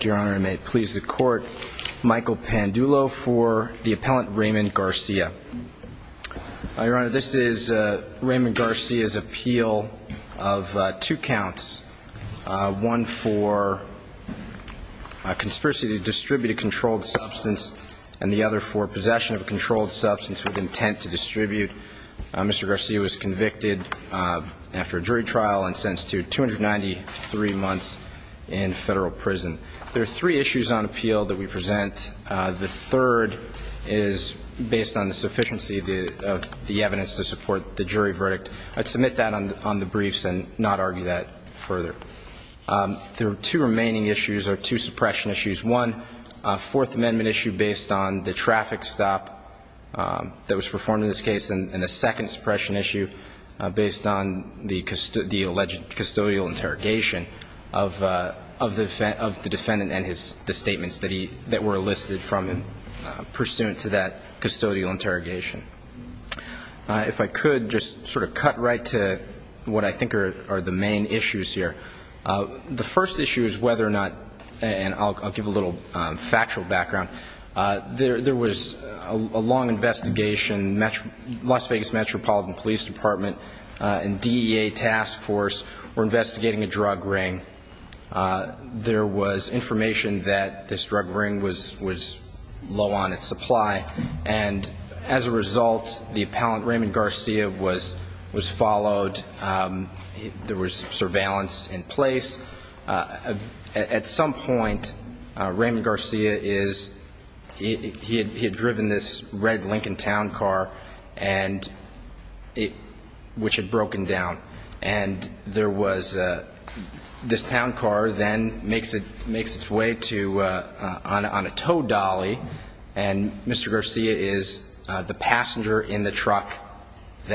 Your Honor, I may please the Court. Michael Pandulo for the Appellant Raymond Garcia. Your Honor, this is Raymond Garcia's appeal of two counts, one for conspiracy to distribute a controlled substance and the other for possession of a controlled substance with intent to distribute. Mr. Garcia was convicted after a jury trial and sentenced to 293 months in federal prison. There are three issues on appeal that we present. The third is based on the sufficiency of the evidence to support the jury verdict. I'd submit that on the briefs and not argue that further. There are two remaining issues or two suppression issues. One, a Fourth Amendment issue based on the traffic stop that was performed in this case, and a second suppression issue based on the alleged custodial interrogation of the defendant and the statements that were elicited from him pursuant to that custodial interrogation. If I could just sort of cut right to what I think are the main issues here. The first issue is whether or not, and I'll give a little factual background. There was a long investigation, Las Vegas Metropolitan Police Department and DEA task force were investigating a drug ring. There was information that this drug ring was low on its supply. And as a result, the appellant, Raymond Garcia, was followed. There was surveillance in place. At some point, Raymond Garcia is, he had driven this red Lincoln town car and it, which had broken down. And there was, this town car then makes its way to, on a tow dolly. And Mr. Garcia is the passenger in the and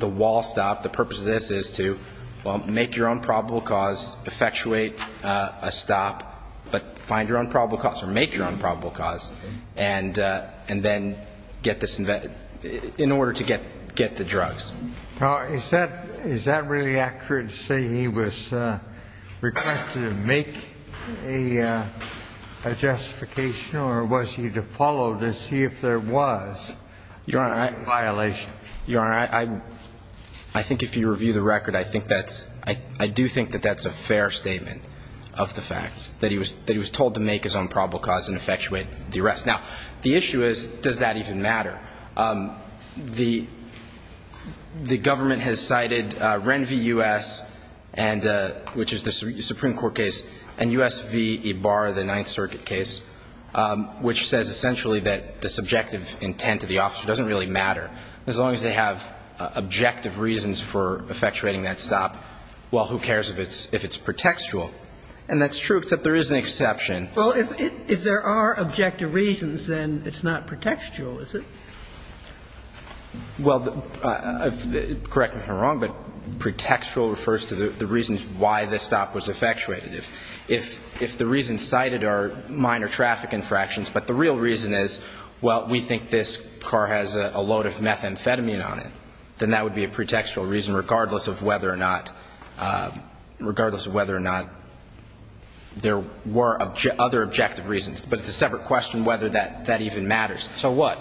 the wall stopped. The purpose of this is to, well, make your own probable cause, effectuate a stop, but find your own probable cause or make your own probable cause. And then get this, in order to get the drugs. Now, is that really accurate to say he was requested to make a justification or was he followed to see if there was a violation? Your Honor, I think if you review the record, I think that's, I do think that that's a fair statement of the facts. That he was told to make his own probable cause and effectuate the arrest. Now, the issue is, does that even matter? The government has cited Ren v. U.S., which is the Supreme Court case, and U.S. v. Ibar, the Ninth Circuit case, which says essentially that the subjective intent of the officer doesn't really matter, as long as they have objective reasons for effectuating that stop. Well, who cares if it's, if it's pretextual? And that's true, except there is an exception. Well, if there are objective reasons, then it's not pretextual, is it? Well, correct me if I'm wrong, but pretextual refers to the reasons why this stop was minor traffic infractions. But the real reason is, well, we think this car has a load of methamphetamine on it. Then that would be a pretextual reason, regardless of whether or not, regardless of whether or not there were other objective reasons. But it's a separate question whether that even matters. So what?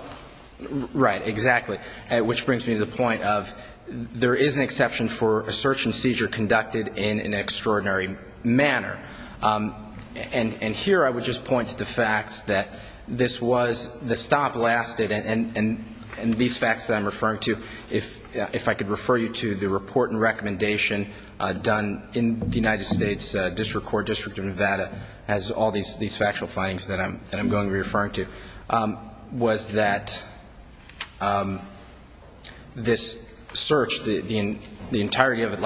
Right, exactly. Which brings me to the point of, there is an exception for a search and seizure conducted in an extraordinary manner. And, and here I would just point to the facts that this was, the stop lasted, and, and, and these facts that I'm referring to, if, if I could refer you to the report and recommendation done in the United States District Court, District of Nevada, has all these, these factual findings that I'm, that I'm going to be referring to, was that this search, the, the, the entirety of it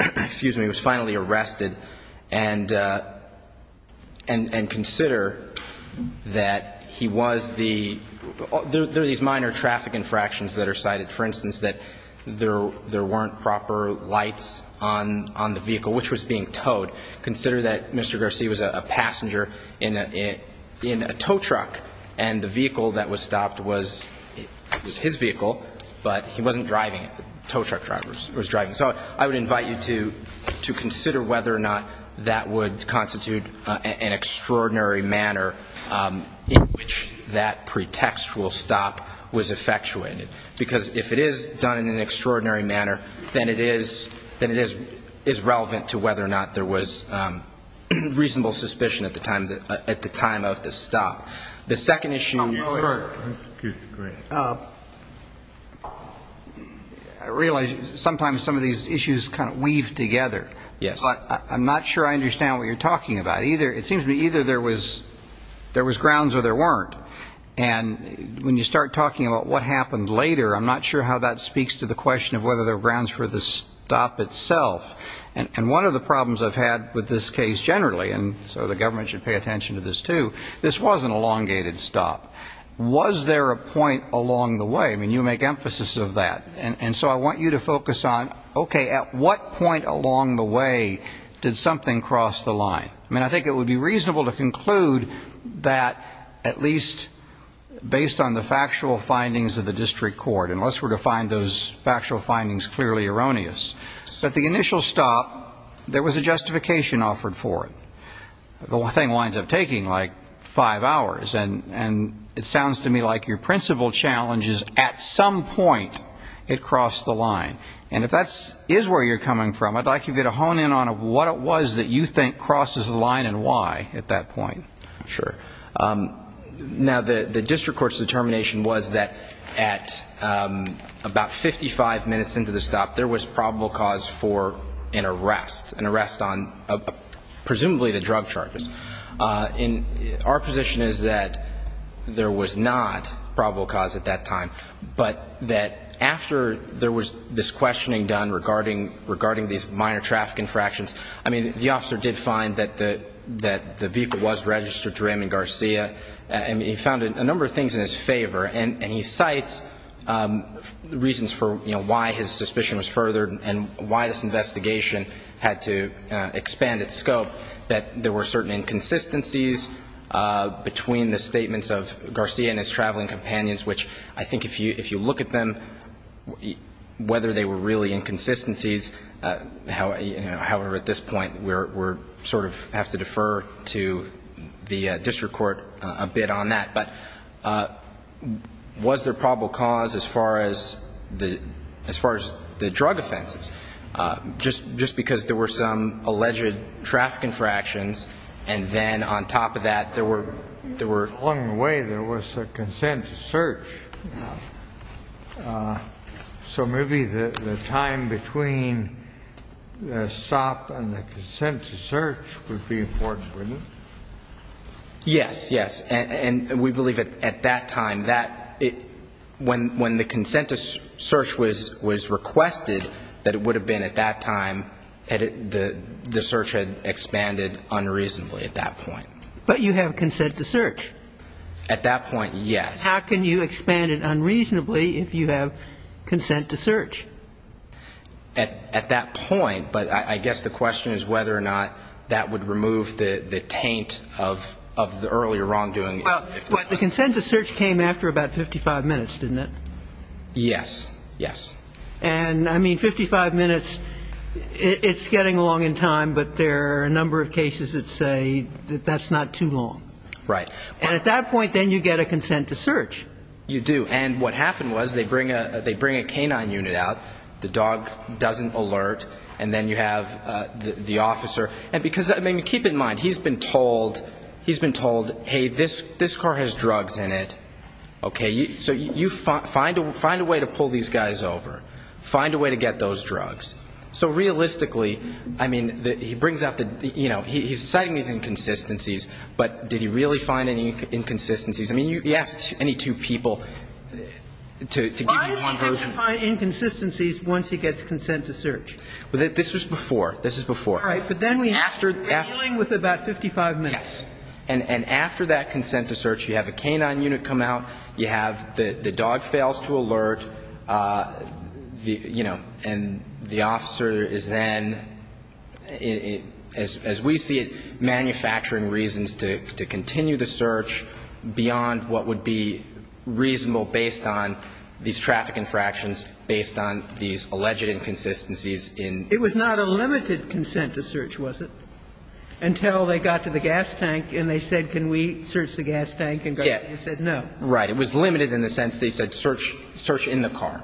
was, excuse me, was finally arrested. And, and, and consider that he was the, there, there are these minor traffic infractions that are cited. For instance, that there, there weren't proper lights on, on the vehicle, which was being towed. Consider that Mr. Garcia was a passenger in a, in a tow truck, and the vehicle that was stopped was, was his vehicle, but he wasn't driving it. Tow truck driver was driving. So I would invite you to, to consider whether or not that would constitute an extraordinary manner in which that pretextual stop was effectuated. Because if it is done in an extraordinary manner, then it is, then it is, is relevant to whether or not there was reasonable suspicion at the time, at the time of the stop. The second issue. I realize sometimes some of these issues kind of weave together. Yes. But I'm not sure I understand what you're talking about either. It seems to me either there was, there was grounds or there weren't. And when you start talking about what happened later, I'm not sure how that speaks to the question of whether there were grounds for the stop itself. And one of the problems I've had with this case generally, and so the government should pay stop. Was there a point along the way? I mean, you make emphasis of that. And so I want you to focus on, okay, at what point along the way did something cross the line? I mean, I think it would be reasonable to conclude that at least based on the factual findings of the district court, unless we're to find those factual findings clearly erroneous. At the initial stop, there was a justification offered for it. The whole thing winds up taking like five hours. And it sounds to me like your principal challenge is at some point it crossed the line. And if that is where you're coming from, I'd like you to get a hone in on what it was that you think crosses the line and why at that point. Sure. Now the district court's determination was that at about 55 minutes into the stop, there was probable cause for an arrest, an arrest on presumably the drug charges. And our position is that there was not probable cause at that time, but that after there was this questioning done regarding these minor traffic infractions, I mean, the officer did find that the vehicle was registered to Raymond Garcia. And he found a number of things in his favor. And he cites reasons for why his suspicion was furthered and why this investigation had to expand its scope, that there were certain inconsistencies between the statements of Garcia and his traveling companions, which I think if you look at them, whether they were really inconsistencies, however, at this point, we're sort of have to defer to the district court a bit on that. But was there probable cause as far as the drug offenses? Just because there were some alleged traffic infractions, and then on top of that, there were... Along the way, there was a consent to search. So maybe the time between the stop and the consent to search would be important, wouldn't it? Yes, yes. And we believe at that time, when the consent to search was requested, that it would have been at that time, the search had expanded unreasonably at that point. But you have consent to search. At that point, yes. How can you expand it unreasonably if you have consent to search? At that point, but I guess the question is whether or not that would remove the taint of the earlier wrongdoing. But the consent to search came after about 55 minutes, didn't it? Yes, yes. And I mean, 55 minutes, it's getting along in time, but there are a number of cases that say that that's not too long. Right. And at that point, then you get a consent to search. You do. And what happened was they bring a canine unit out, the dog doesn't alert, and then you have the officer. And because, I mean, keep in mind, he's been told, hey, this car has drugs in it, okay? So you find a way to pull these guys over, find a way to get those drugs. So realistically, I mean, he brings up the... He's citing these inconsistencies, but did he really find any inconsistencies? I mean, he asks any two people to give you one version. Why does he have to find inconsistencies once he gets consent to search? Well, this was before. This is before. All right. But then we have to deal with about 55 minutes. Yes. And after that consent to search, you have a canine unit come out, you have the dog fails to alert, you know, and the officer is then, as we see it, manufacturing reasons to continue the search beyond what would be reasonable based on these traffic infractions, based on these alleged inconsistencies in... It was not a limited consent to search, was it? Until they got to the gas tank and they said, can we search the gas tank? And Garcia said no. Right. It was limited in the sense they said search in the car.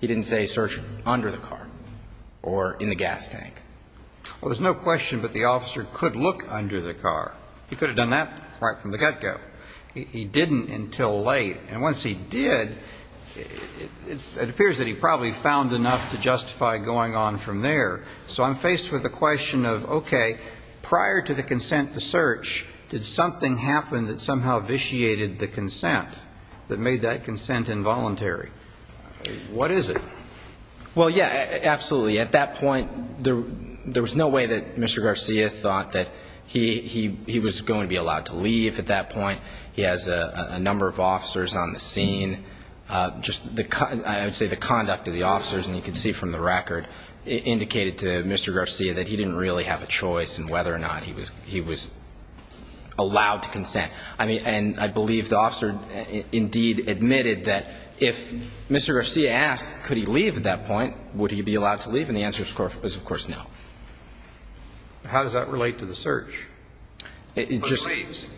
He didn't say search under the car or in the gas tank. Well, there's no question, but the officer could look under the car. He could have done that right from the get-go. He didn't until late. And once he did, it appears that he probably found enough to justify going on from there. So I'm faced with the question of, okay, prior to the consent to search, did something happen that somehow vitiated the consent, that made that consent involuntary? What is it? Well, yeah, absolutely. At that point, there was no way that Mr. Garcia thought that he was going to be allowed to leave at that point. He has a number of officers on the scene. I would say the conduct of the officers, and you can see from the record, indicated to Mr. Garcia that he didn't really have a choice in whether or not he was allowed to consent. And I believe the officer indeed admitted that if Mr. Garcia had asked, could he leave at that point, would he be allowed to leave? And the answer is, of course, no. How does that relate to the search? Who leaves?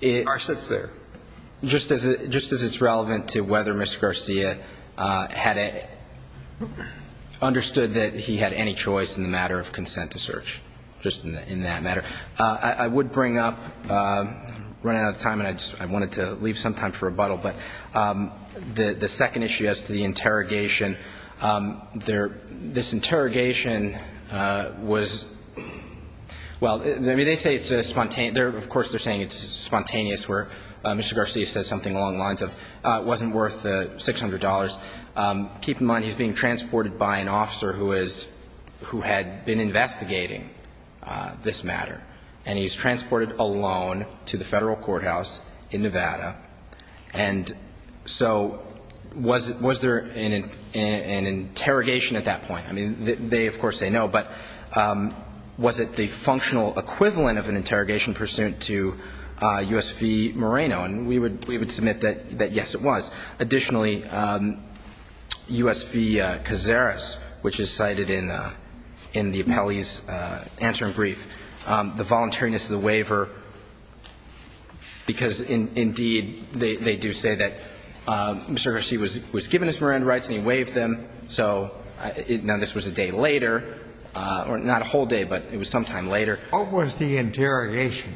The car sits there. Just as it's relevant to whether Mr. Garcia had understood that he had any choice in the matter of consent to search, just in that matter. I would bring up, I'm running out of time, and I wanted to leave some time for rebuttal, but the second issue as to the interrogation, this interrogation was, well, I mean, they say it's spontaneous. Of course, they're saying it's spontaneous, where Mr. Garcia says something along the lines of, it wasn't worth $600. Keep in mind, he's being transported by an officer who had been investigating this matter, and he's an interrogation at that point. They, of course, say no, but was it the functional equivalent of an interrogation pursuant to U.S. v. Moreno? And we would submit that yes, it was. Additionally, U.S. v. Cazares, which is cited in the appellee's answer in brief, the voluntariness of the waiver, because indeed, they do say that Mr. Garcia was given his Moreno rights and he waived them, so now this was a day later, or not a whole day, but it was sometime later. What was the interrogation?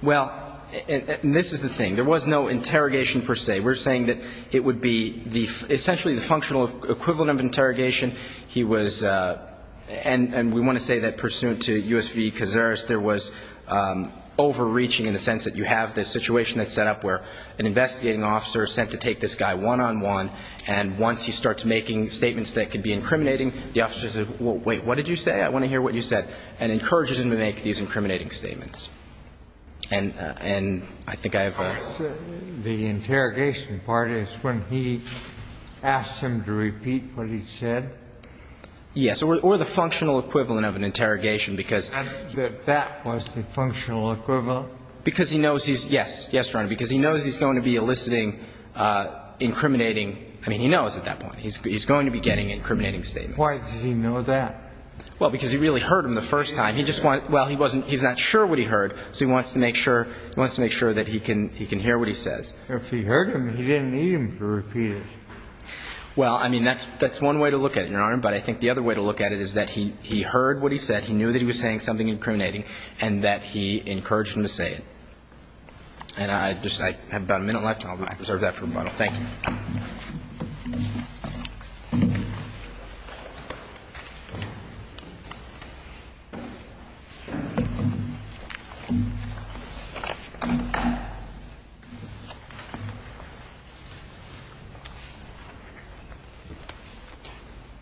Well, and this is the thing. There was no interrogation per se. We're saying that it would be essentially the functional equivalent of interrogation. He was, and we want to say that pursuant to U.S. v. Cazares, there was overreaching in the sense that you have this situation that's set up where an investigating officer is sent to take this guy one-on-one, and once he starts making statements that could be incriminating, the officer says, wait, what did you say? I want to hear what you said, and encourages him to make these incriminating statements. And I think I have a question. The interrogation part is when he asks him to repeat what he said? Yes, or the functional equivalent of an interrogation, because he's going to be eliciting incriminating, I mean, he knows at that point. He's going to be getting incriminating statements. Why does he know that? Well, because he really heard him the first time. He just wants, well, he's not sure what he heard, so he wants to make sure that he can hear what he says. If he heard him, he didn't need him to repeat it. Well, I mean, that's one way to look at it, Your Honor, but I think the other way to look at it is that he heard what he said, he knew that he was saying something incriminating, and that he encouraged him to say it. And I have about a minute left, and I'll reserve that for rebuttal. Thank you.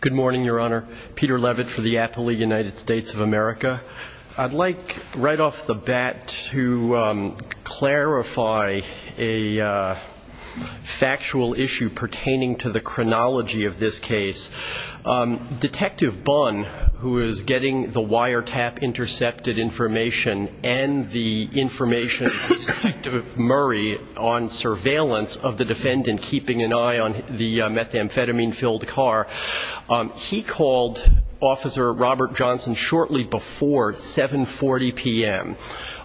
Good morning, Your Honor. Peter Levitt for the Appley United States of America. I'd like, right off the bat, to clarify a factual issue pertaining to the chronology of this case. Detective Bunn, who is getting the wiretap intercepted information and the information from Detective Murray on surveillance of the defendant keeping an eye on the methamphetamine-filled car, he called Officer Robert Johnson shortly before 7.40 p.m.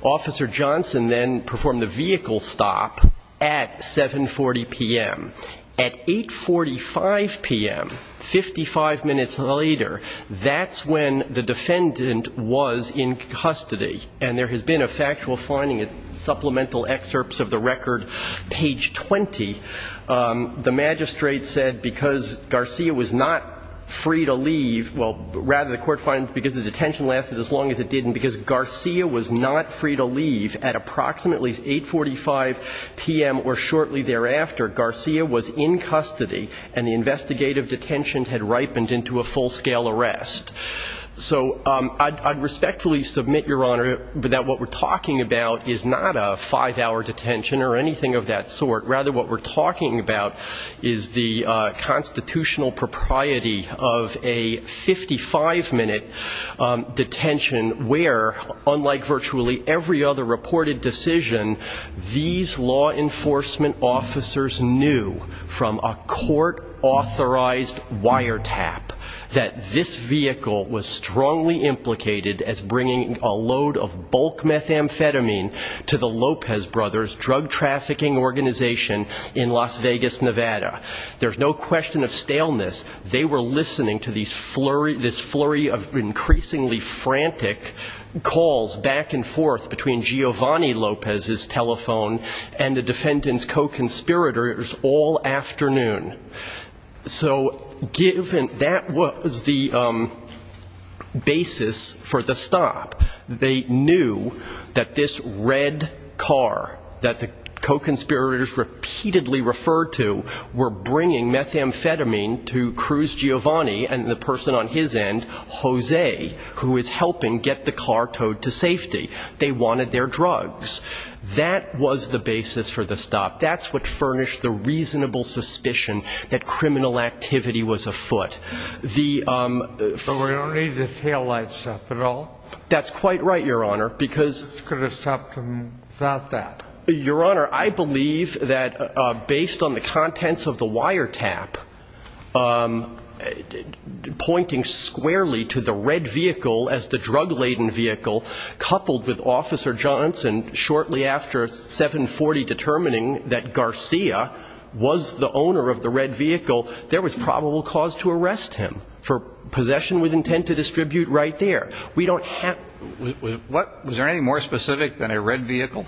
Officer Johnson then performed a vehicle stop at 7.40 p.m. At 8.45 p.m., 55 minutes later, that's when the defendant was in custody. And there has been a factual finding, supplemental excerpts of the record, page 20. The magistrate said because Garcia was not free to leave, well, rather the court finds because the detention lasted as long as it did and because Garcia was not free to leave at approximately 8.45 p.m. or shortly thereafter, Garcia was in custody, and the investigative detention had ripened into a full-scale arrest. So I'd respectfully submit, Your Honor, that what we're talking about here is a 55-minute detention where, unlike virtually every other reported decision, these law enforcement officers knew from a court-authorized wiretap that this vehicle was strongly implicated as bringing a load of bulk methamphetamine to the Lopez Brothers drug-trafficking organization in Las Vegas, Nevada. There's no question of staleness. They were listening to this flurry of increasingly frantic calls back and forth between Giovanni Lopez's telephone and the defendant's co-conspirators all afternoon. So given that was the basis for the stop, they knew that this red car that the co-conspirators repeatedly referred to were bringing methamphetamine to Cruz Giovanni and the person on his end, Jose, who is helping get the car towed to safety. They wanted their drugs. That was the basis for the stop. That's what furnished the reasonable suspicion that criminal activity was afoot. The ---- But we don't need the taillight stuff at all. That's quite right, Your Honor, because ---- Who's going to stop them without that? Your Honor, I believe that based on the contents of the wiretap pointing squarely to the red vehicle as the drug-laden vehicle, coupled with Officer Johnson shortly after 740 determining that Garcia was the owner of the red vehicle, there was probable cause to arrest him for possession with intent to distribute right there. We don't have ---- Was there anything more specific than a red vehicle?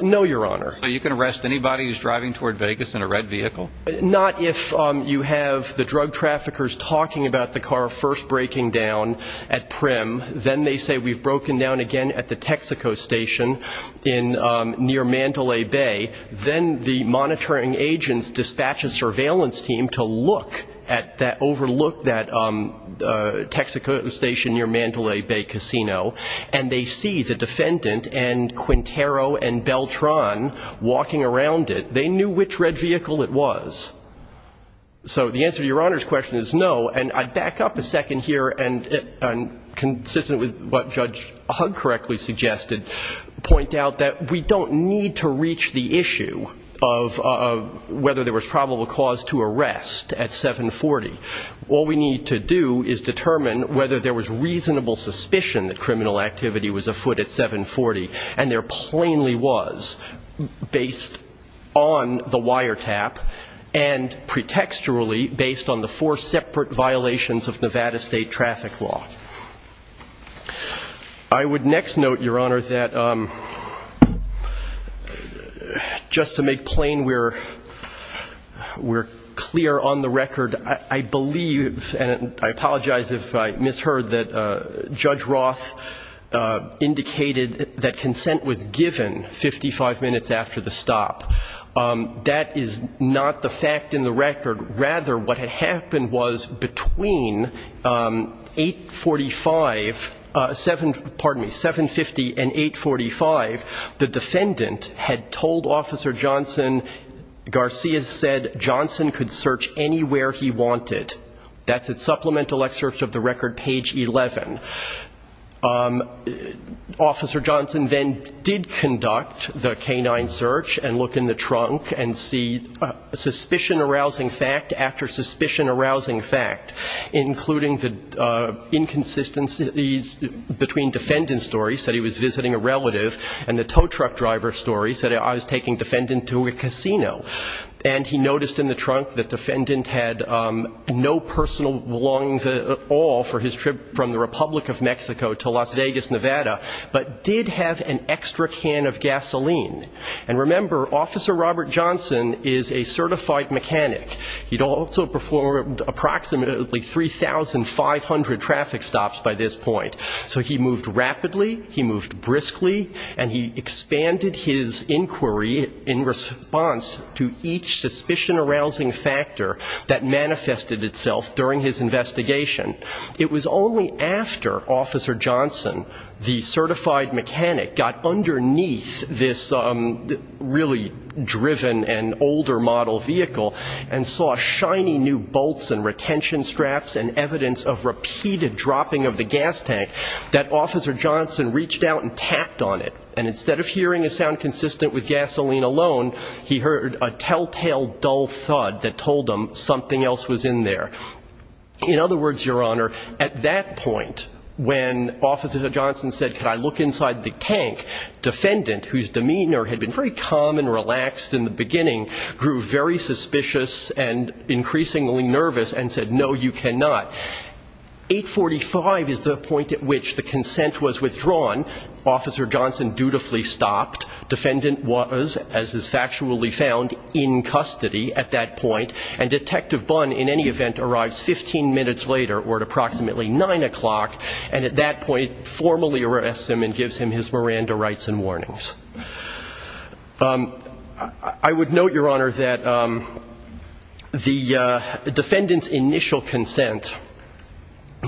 No, Your Honor. So you can arrest anybody who's driving toward Vegas in a red vehicle? Not if you have the drug traffickers talking about the car first breaking down at prim, then they say we've broken down again at the Texaco Station near Mandalay Bay, then the monitoring agents dispatch a surveillance team to look at that, overlook that Texaco Station near Mandalay Bay Casino, and they see the defendant and Quintero and Beltran walking around it. They knew which red vehicle it was. So the answer to Your Honor's question is no, and I'd back up a second here and, consistent with what Judge Hug correctly suggested, point out that we don't need to reach the issue of whether there was probable cause to arrest at 740. All we need to do is determine whether there was reasonable suspicion that there plainly was based on the wiretap and pretextually based on the four separate violations of Nevada State traffic law. I would next note, Your Honor, that just to make plain, we're clear on the record, I believe, and I apologize if I misheard, that Judge Roth indicated that consent was given 55 minutes after the stop. That is not the fact in the record. Rather, what had happened was between 845, pardon me, 750 and 845, the defendant had told Officer Johnson, Garcia said Johnson could search anywhere he wanted. That's a supplemental excerpt of the record, page 11. Officer Johnson then did conduct the canine search and look in the trunk and see suspicion arousing fact after suspicion arousing fact, including the inconsistencies between defendant's story, said he was visiting a relative, and the tow truck driver's story, said I was taking defendant to a casino. And he noticed in the trunk that defendant had no personal belongings at all for his trip from the Republic of Mexico to Las Vegas, Nevada, but did have an extra can of gasoline. And remember, Officer Robert Johnson is a certified mechanic. He'd also performed approximately 3,500 traffic stops by this point. So he moved rapidly, he moved briskly, and he expanded his inquiry in response to each suspicion arousing factor that manifested itself during his investigation. It was only after Officer Johnson, the certified mechanic, got underneath this really driven and older model vehicle and saw shiny new bolts and retention straps and evidence of repeated dropping of the gas tank that Officer Johnson reached out and tapped on it. And instead of hearing a sound consistent with a telltale dull thud that told him something else was in there. In other words, Your Honor, at that point, when Officer Johnson said, could I look inside the tank, defendant, whose demeanor had been very calm and relaxed in the beginning, grew very suspicious and increasingly nervous and said, no, you cannot. 845 is the point at which the consent was withdrawn. Officer Johnson dutifully stopped. Defendant was, as is factually found, in custody at that point. And Detective Bunn, in any event, arrives 15 minutes later, or at approximately 9 o'clock, and at that point formally arrests him and gives him his Miranda rights and warnings. I would note, Your Honor, that the defendant's initial consent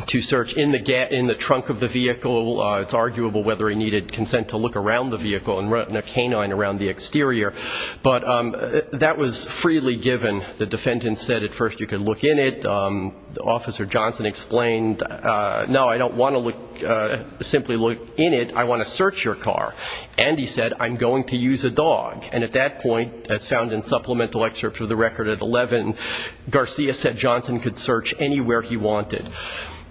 to search in the trunk of the vehicle, it's arguable whether he needed consent to look around the vehicle and run a canine around the exterior, but that was freely given. The defendant said at first you could look in it. Officer Johnson explained, no, I don't want to simply look in it, I want to search your car. And he said, I'm going to use a dog. And at that point, as found in supplemental excerpts of the record at that point, he was able to do whatever he wanted.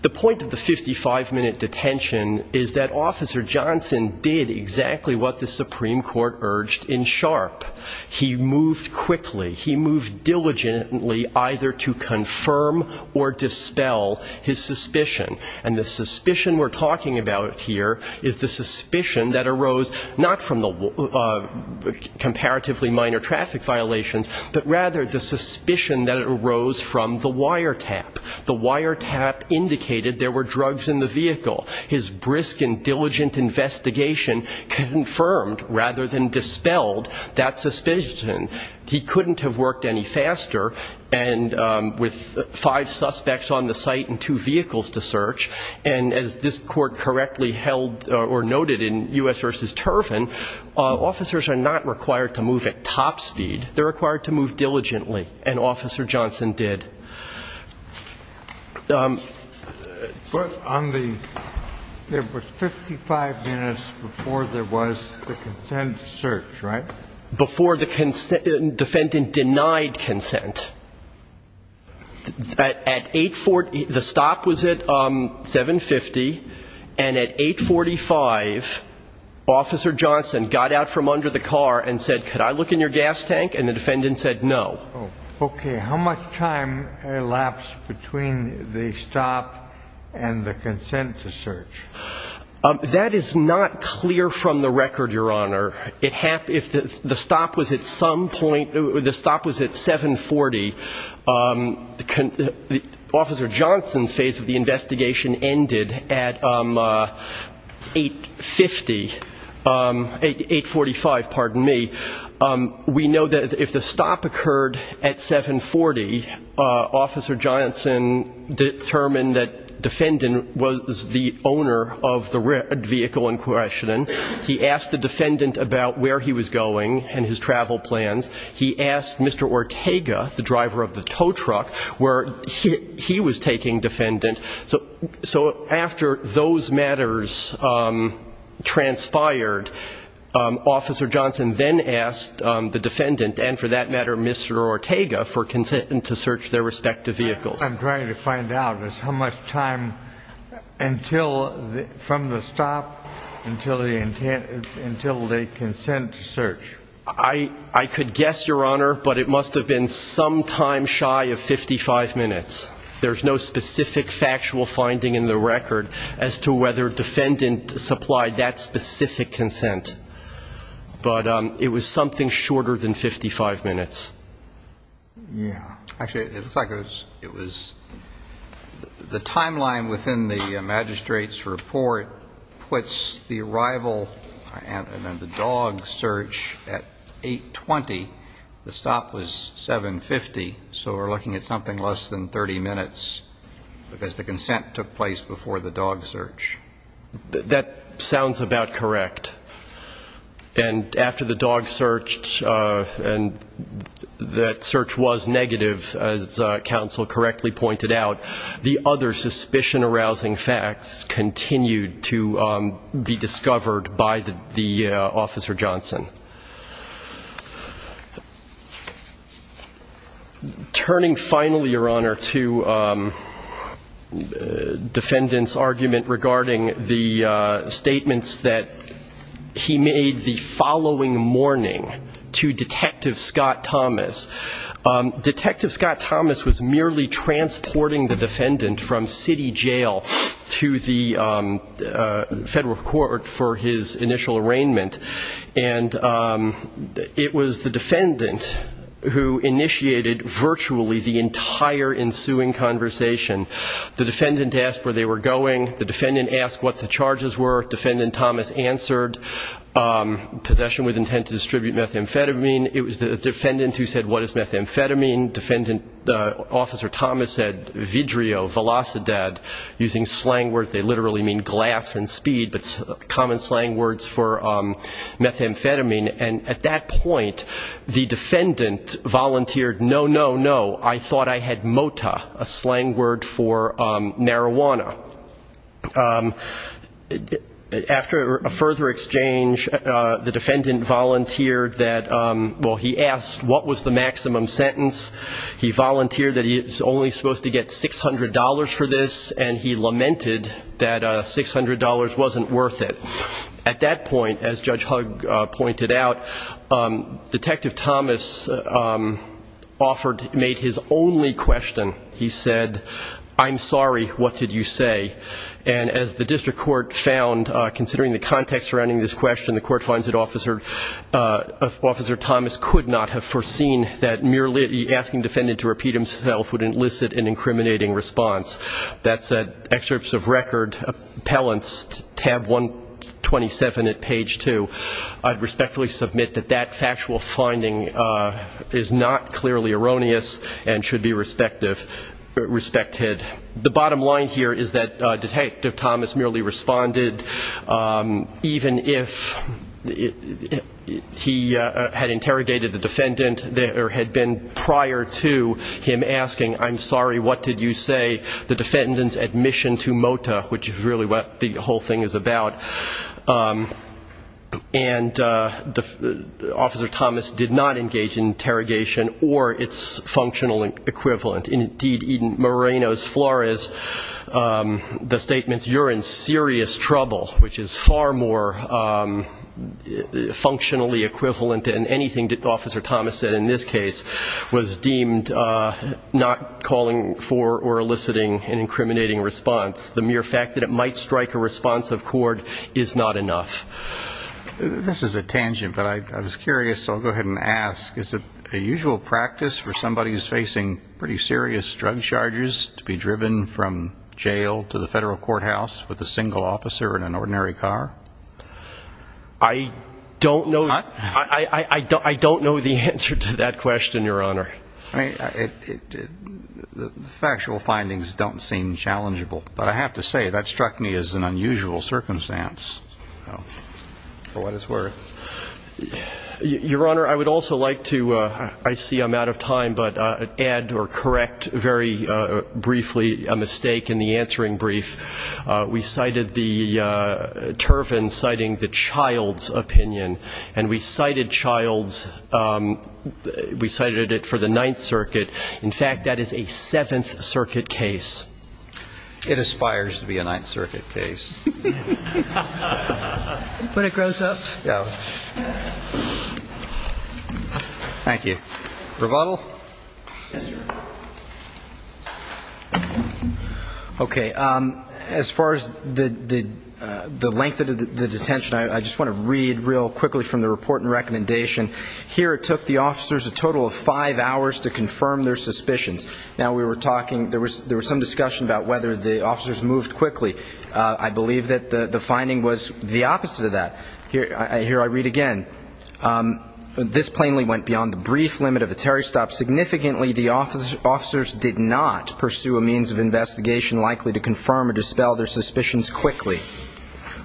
The point of the 55-minute detention is that Officer Johnson did exactly what the Supreme Court urged in Sharp. He moved quickly. He moved diligently either to confirm or dispel his suspicion. And the suspicion we're talking about here is the suspicion that arose not from the comparatively minor traffic violations, but rather the suspicion that arose from the wiretap. The wiretap indicated there were drugs in the vehicle. His brisk and diligent investigation confirmed rather than dispelled that suspicion. He couldn't have worked any faster with five suspects on the site and two vehicles to search. And as this Court correctly held or noted in U.S. v. Turvin, officers are not required to move at top speed. They're required to move diligently. And Officer Johnson did. There was 55 minutes before there was the consent search, right? Before the defendant denied consent. At 840, the stop was at 750, and at 845, Officer Johnson got out from under the car and said, could I look in your gas tank? And the defendant said no. Okay. How much time elapsed between the stop and the consent to search? That is not clear from the record, Your Honor. The stop was at 740. Officer Johnson's phase of the investigation ended at 850, 845, pardon me. We know that if the stop occurred at 740, Officer Johnson determined that defendant was the owner of the vehicle in question. He asked the defendant about where he was going and his travel plans. He asked Mr. Ortega, the driver of the tow truck, where he was taking defendant. So after those matters transpired, Officer Johnson then asked the defendant, and for that matter, Mr. Ortega, for consent to search their respective vehicles. I'm trying to find out is how much time from the stop until the consent search. I could guess, Your Honor, but it must have been some time shy of 55 minutes. There's no specific factual finding in the record as to whether defendant supplied that specific consent. But it was something shorter than 55 minutes. Yeah. Actually, it looks like it was the timeline within the magistrate's report puts the arrival and then the dog search at 820. The stop was 750, so we're looking at something less than 30 minutes, because the consent took place before the dog search. That sounds about correct. And after the dog search, and that search was negative, as counsel correctly pointed out, the other suspicion-arousing facts continued to be discovered by the Officer Johnson. Turning finally, Your Honor, to defendant's argument regarding the fact that the defendant was transporting the statements that he made the following morning to Detective Scott Thomas. Detective Scott Thomas was merely transporting the defendant from city jail to the federal court for his initial arraignment. And it was the defendant who initiated virtually the entire ensuing conversation. The defendant asked where they were going. The defendant asked what the charges were. Defendant Thomas answered, possession with intent to distribute methamphetamine. It was the defendant who said, what is methamphetamine? Defendant Officer Thomas said, vidrio, velocidad, using slang words. They literally mean glass and speed, but common slang words for methamphetamine. And at that point, the defendant volunteered, no, no, no, I thought I had mota, a slang word for marijuana. After a further exchange, the defendant volunteered that, well, he asked what was the maximum sentence. He volunteered that he was only supposed to get $600 for this, and he lamented that $600 wasn't worth it. At that point, as Judge Hug pointed out, Detective Thomas offered, made his only question. He said, I'm sorry, what did you say? And as the district court found, considering the context surrounding this question, the court finds that Officer Thomas could not have foreseen that merely asking the defendant to repeat himself would elicit an incriminating response. That's an excerpt of record appellant's tab 127 at page 2. I respectfully submit that that factual finding is not clearly erroneous and should be respected. The bottom line here is that Detective Thomas merely responded, even if he had interrogated the defendant, there had been prior to him asking, I'm sorry, what did you say? The defendant's admission to mota, which is really what the whole thing is about. And Officer Thomas did not engage in interrogation or its functional equivalent. Indeed, in Moreno's Flores, the statement, you're in serious trouble, which is far more functionally equivalent than anything that Officer Thomas said in this case, was deemed not calling for or requesting an incriminating response. The mere fact that it might strike a responsive cord is not enough. This is a tangent, but I was curious, so I'll go ahead and ask, is it a usual practice for somebody who's facing pretty serious drug charges to be driven from jail to the federal courthouse with a single officer in an ordinary car? I don't know the answer to that question, Your Honor. I mean, the factual findings don't seem challengeable, but I have to say, that struck me as an unusual circumstance. For what it's worth. Your Honor, I would also like to, I see I'm out of time, but add or correct very briefly a mistake in the answering brief. We cited the Turvin citing the child's opinion, and we cited child's, we cited it for the sake of the defendant's The defendant's opinion is not a judgment of the Ninth Circuit. In fact, that is a Seventh Circuit case. It aspires to be a Ninth Circuit case. Thank you. Rebuttal? Yes, sir. Okay. As far as the length of the detention, I just want to read real quickly from the report and recommendation. Here it took the officers a total of five hours to confirm their suspicions. Now, we were talking, there was some discussion about whether the officers moved quickly. I believe that the finding was the opposite of that. Here I read again. This plainly went beyond the brief limit of a Terry stop. Significantly, the officers did not pursue a means of investigation likely to confirm or dispel their suspicions quickly.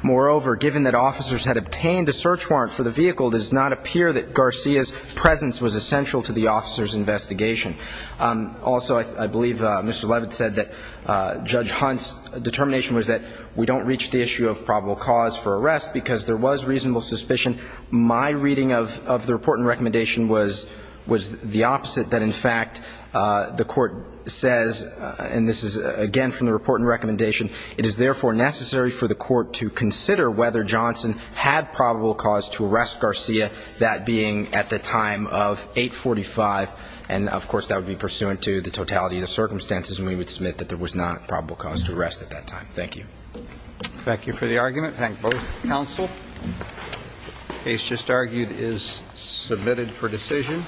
Moreover, given that officers had obtained a search warrant for the vehicle, it does not appear that Garcia's presence was essential to the officers' investigation. Also, I believe Mr. Levitt said that Judge Hunt's determination was that we don't reach the issue of probable cause for arrest because there was reasonable suspicion. My reading of the report and recommendation was the opposite, that in fact, the Court says, and this is, again, from the report and recommendation, it is therefore necessary for the Court to consider whether Johnson had probable cause to arrest Garcia, that being at the time of 845, and, of course, that would be pursuant to the totality of the circumstances, and we would submit that there was not probable cause to arrest at that time. Thank you. Thank you for the argument. Thank both counsel. The case just argued is submitted for decision.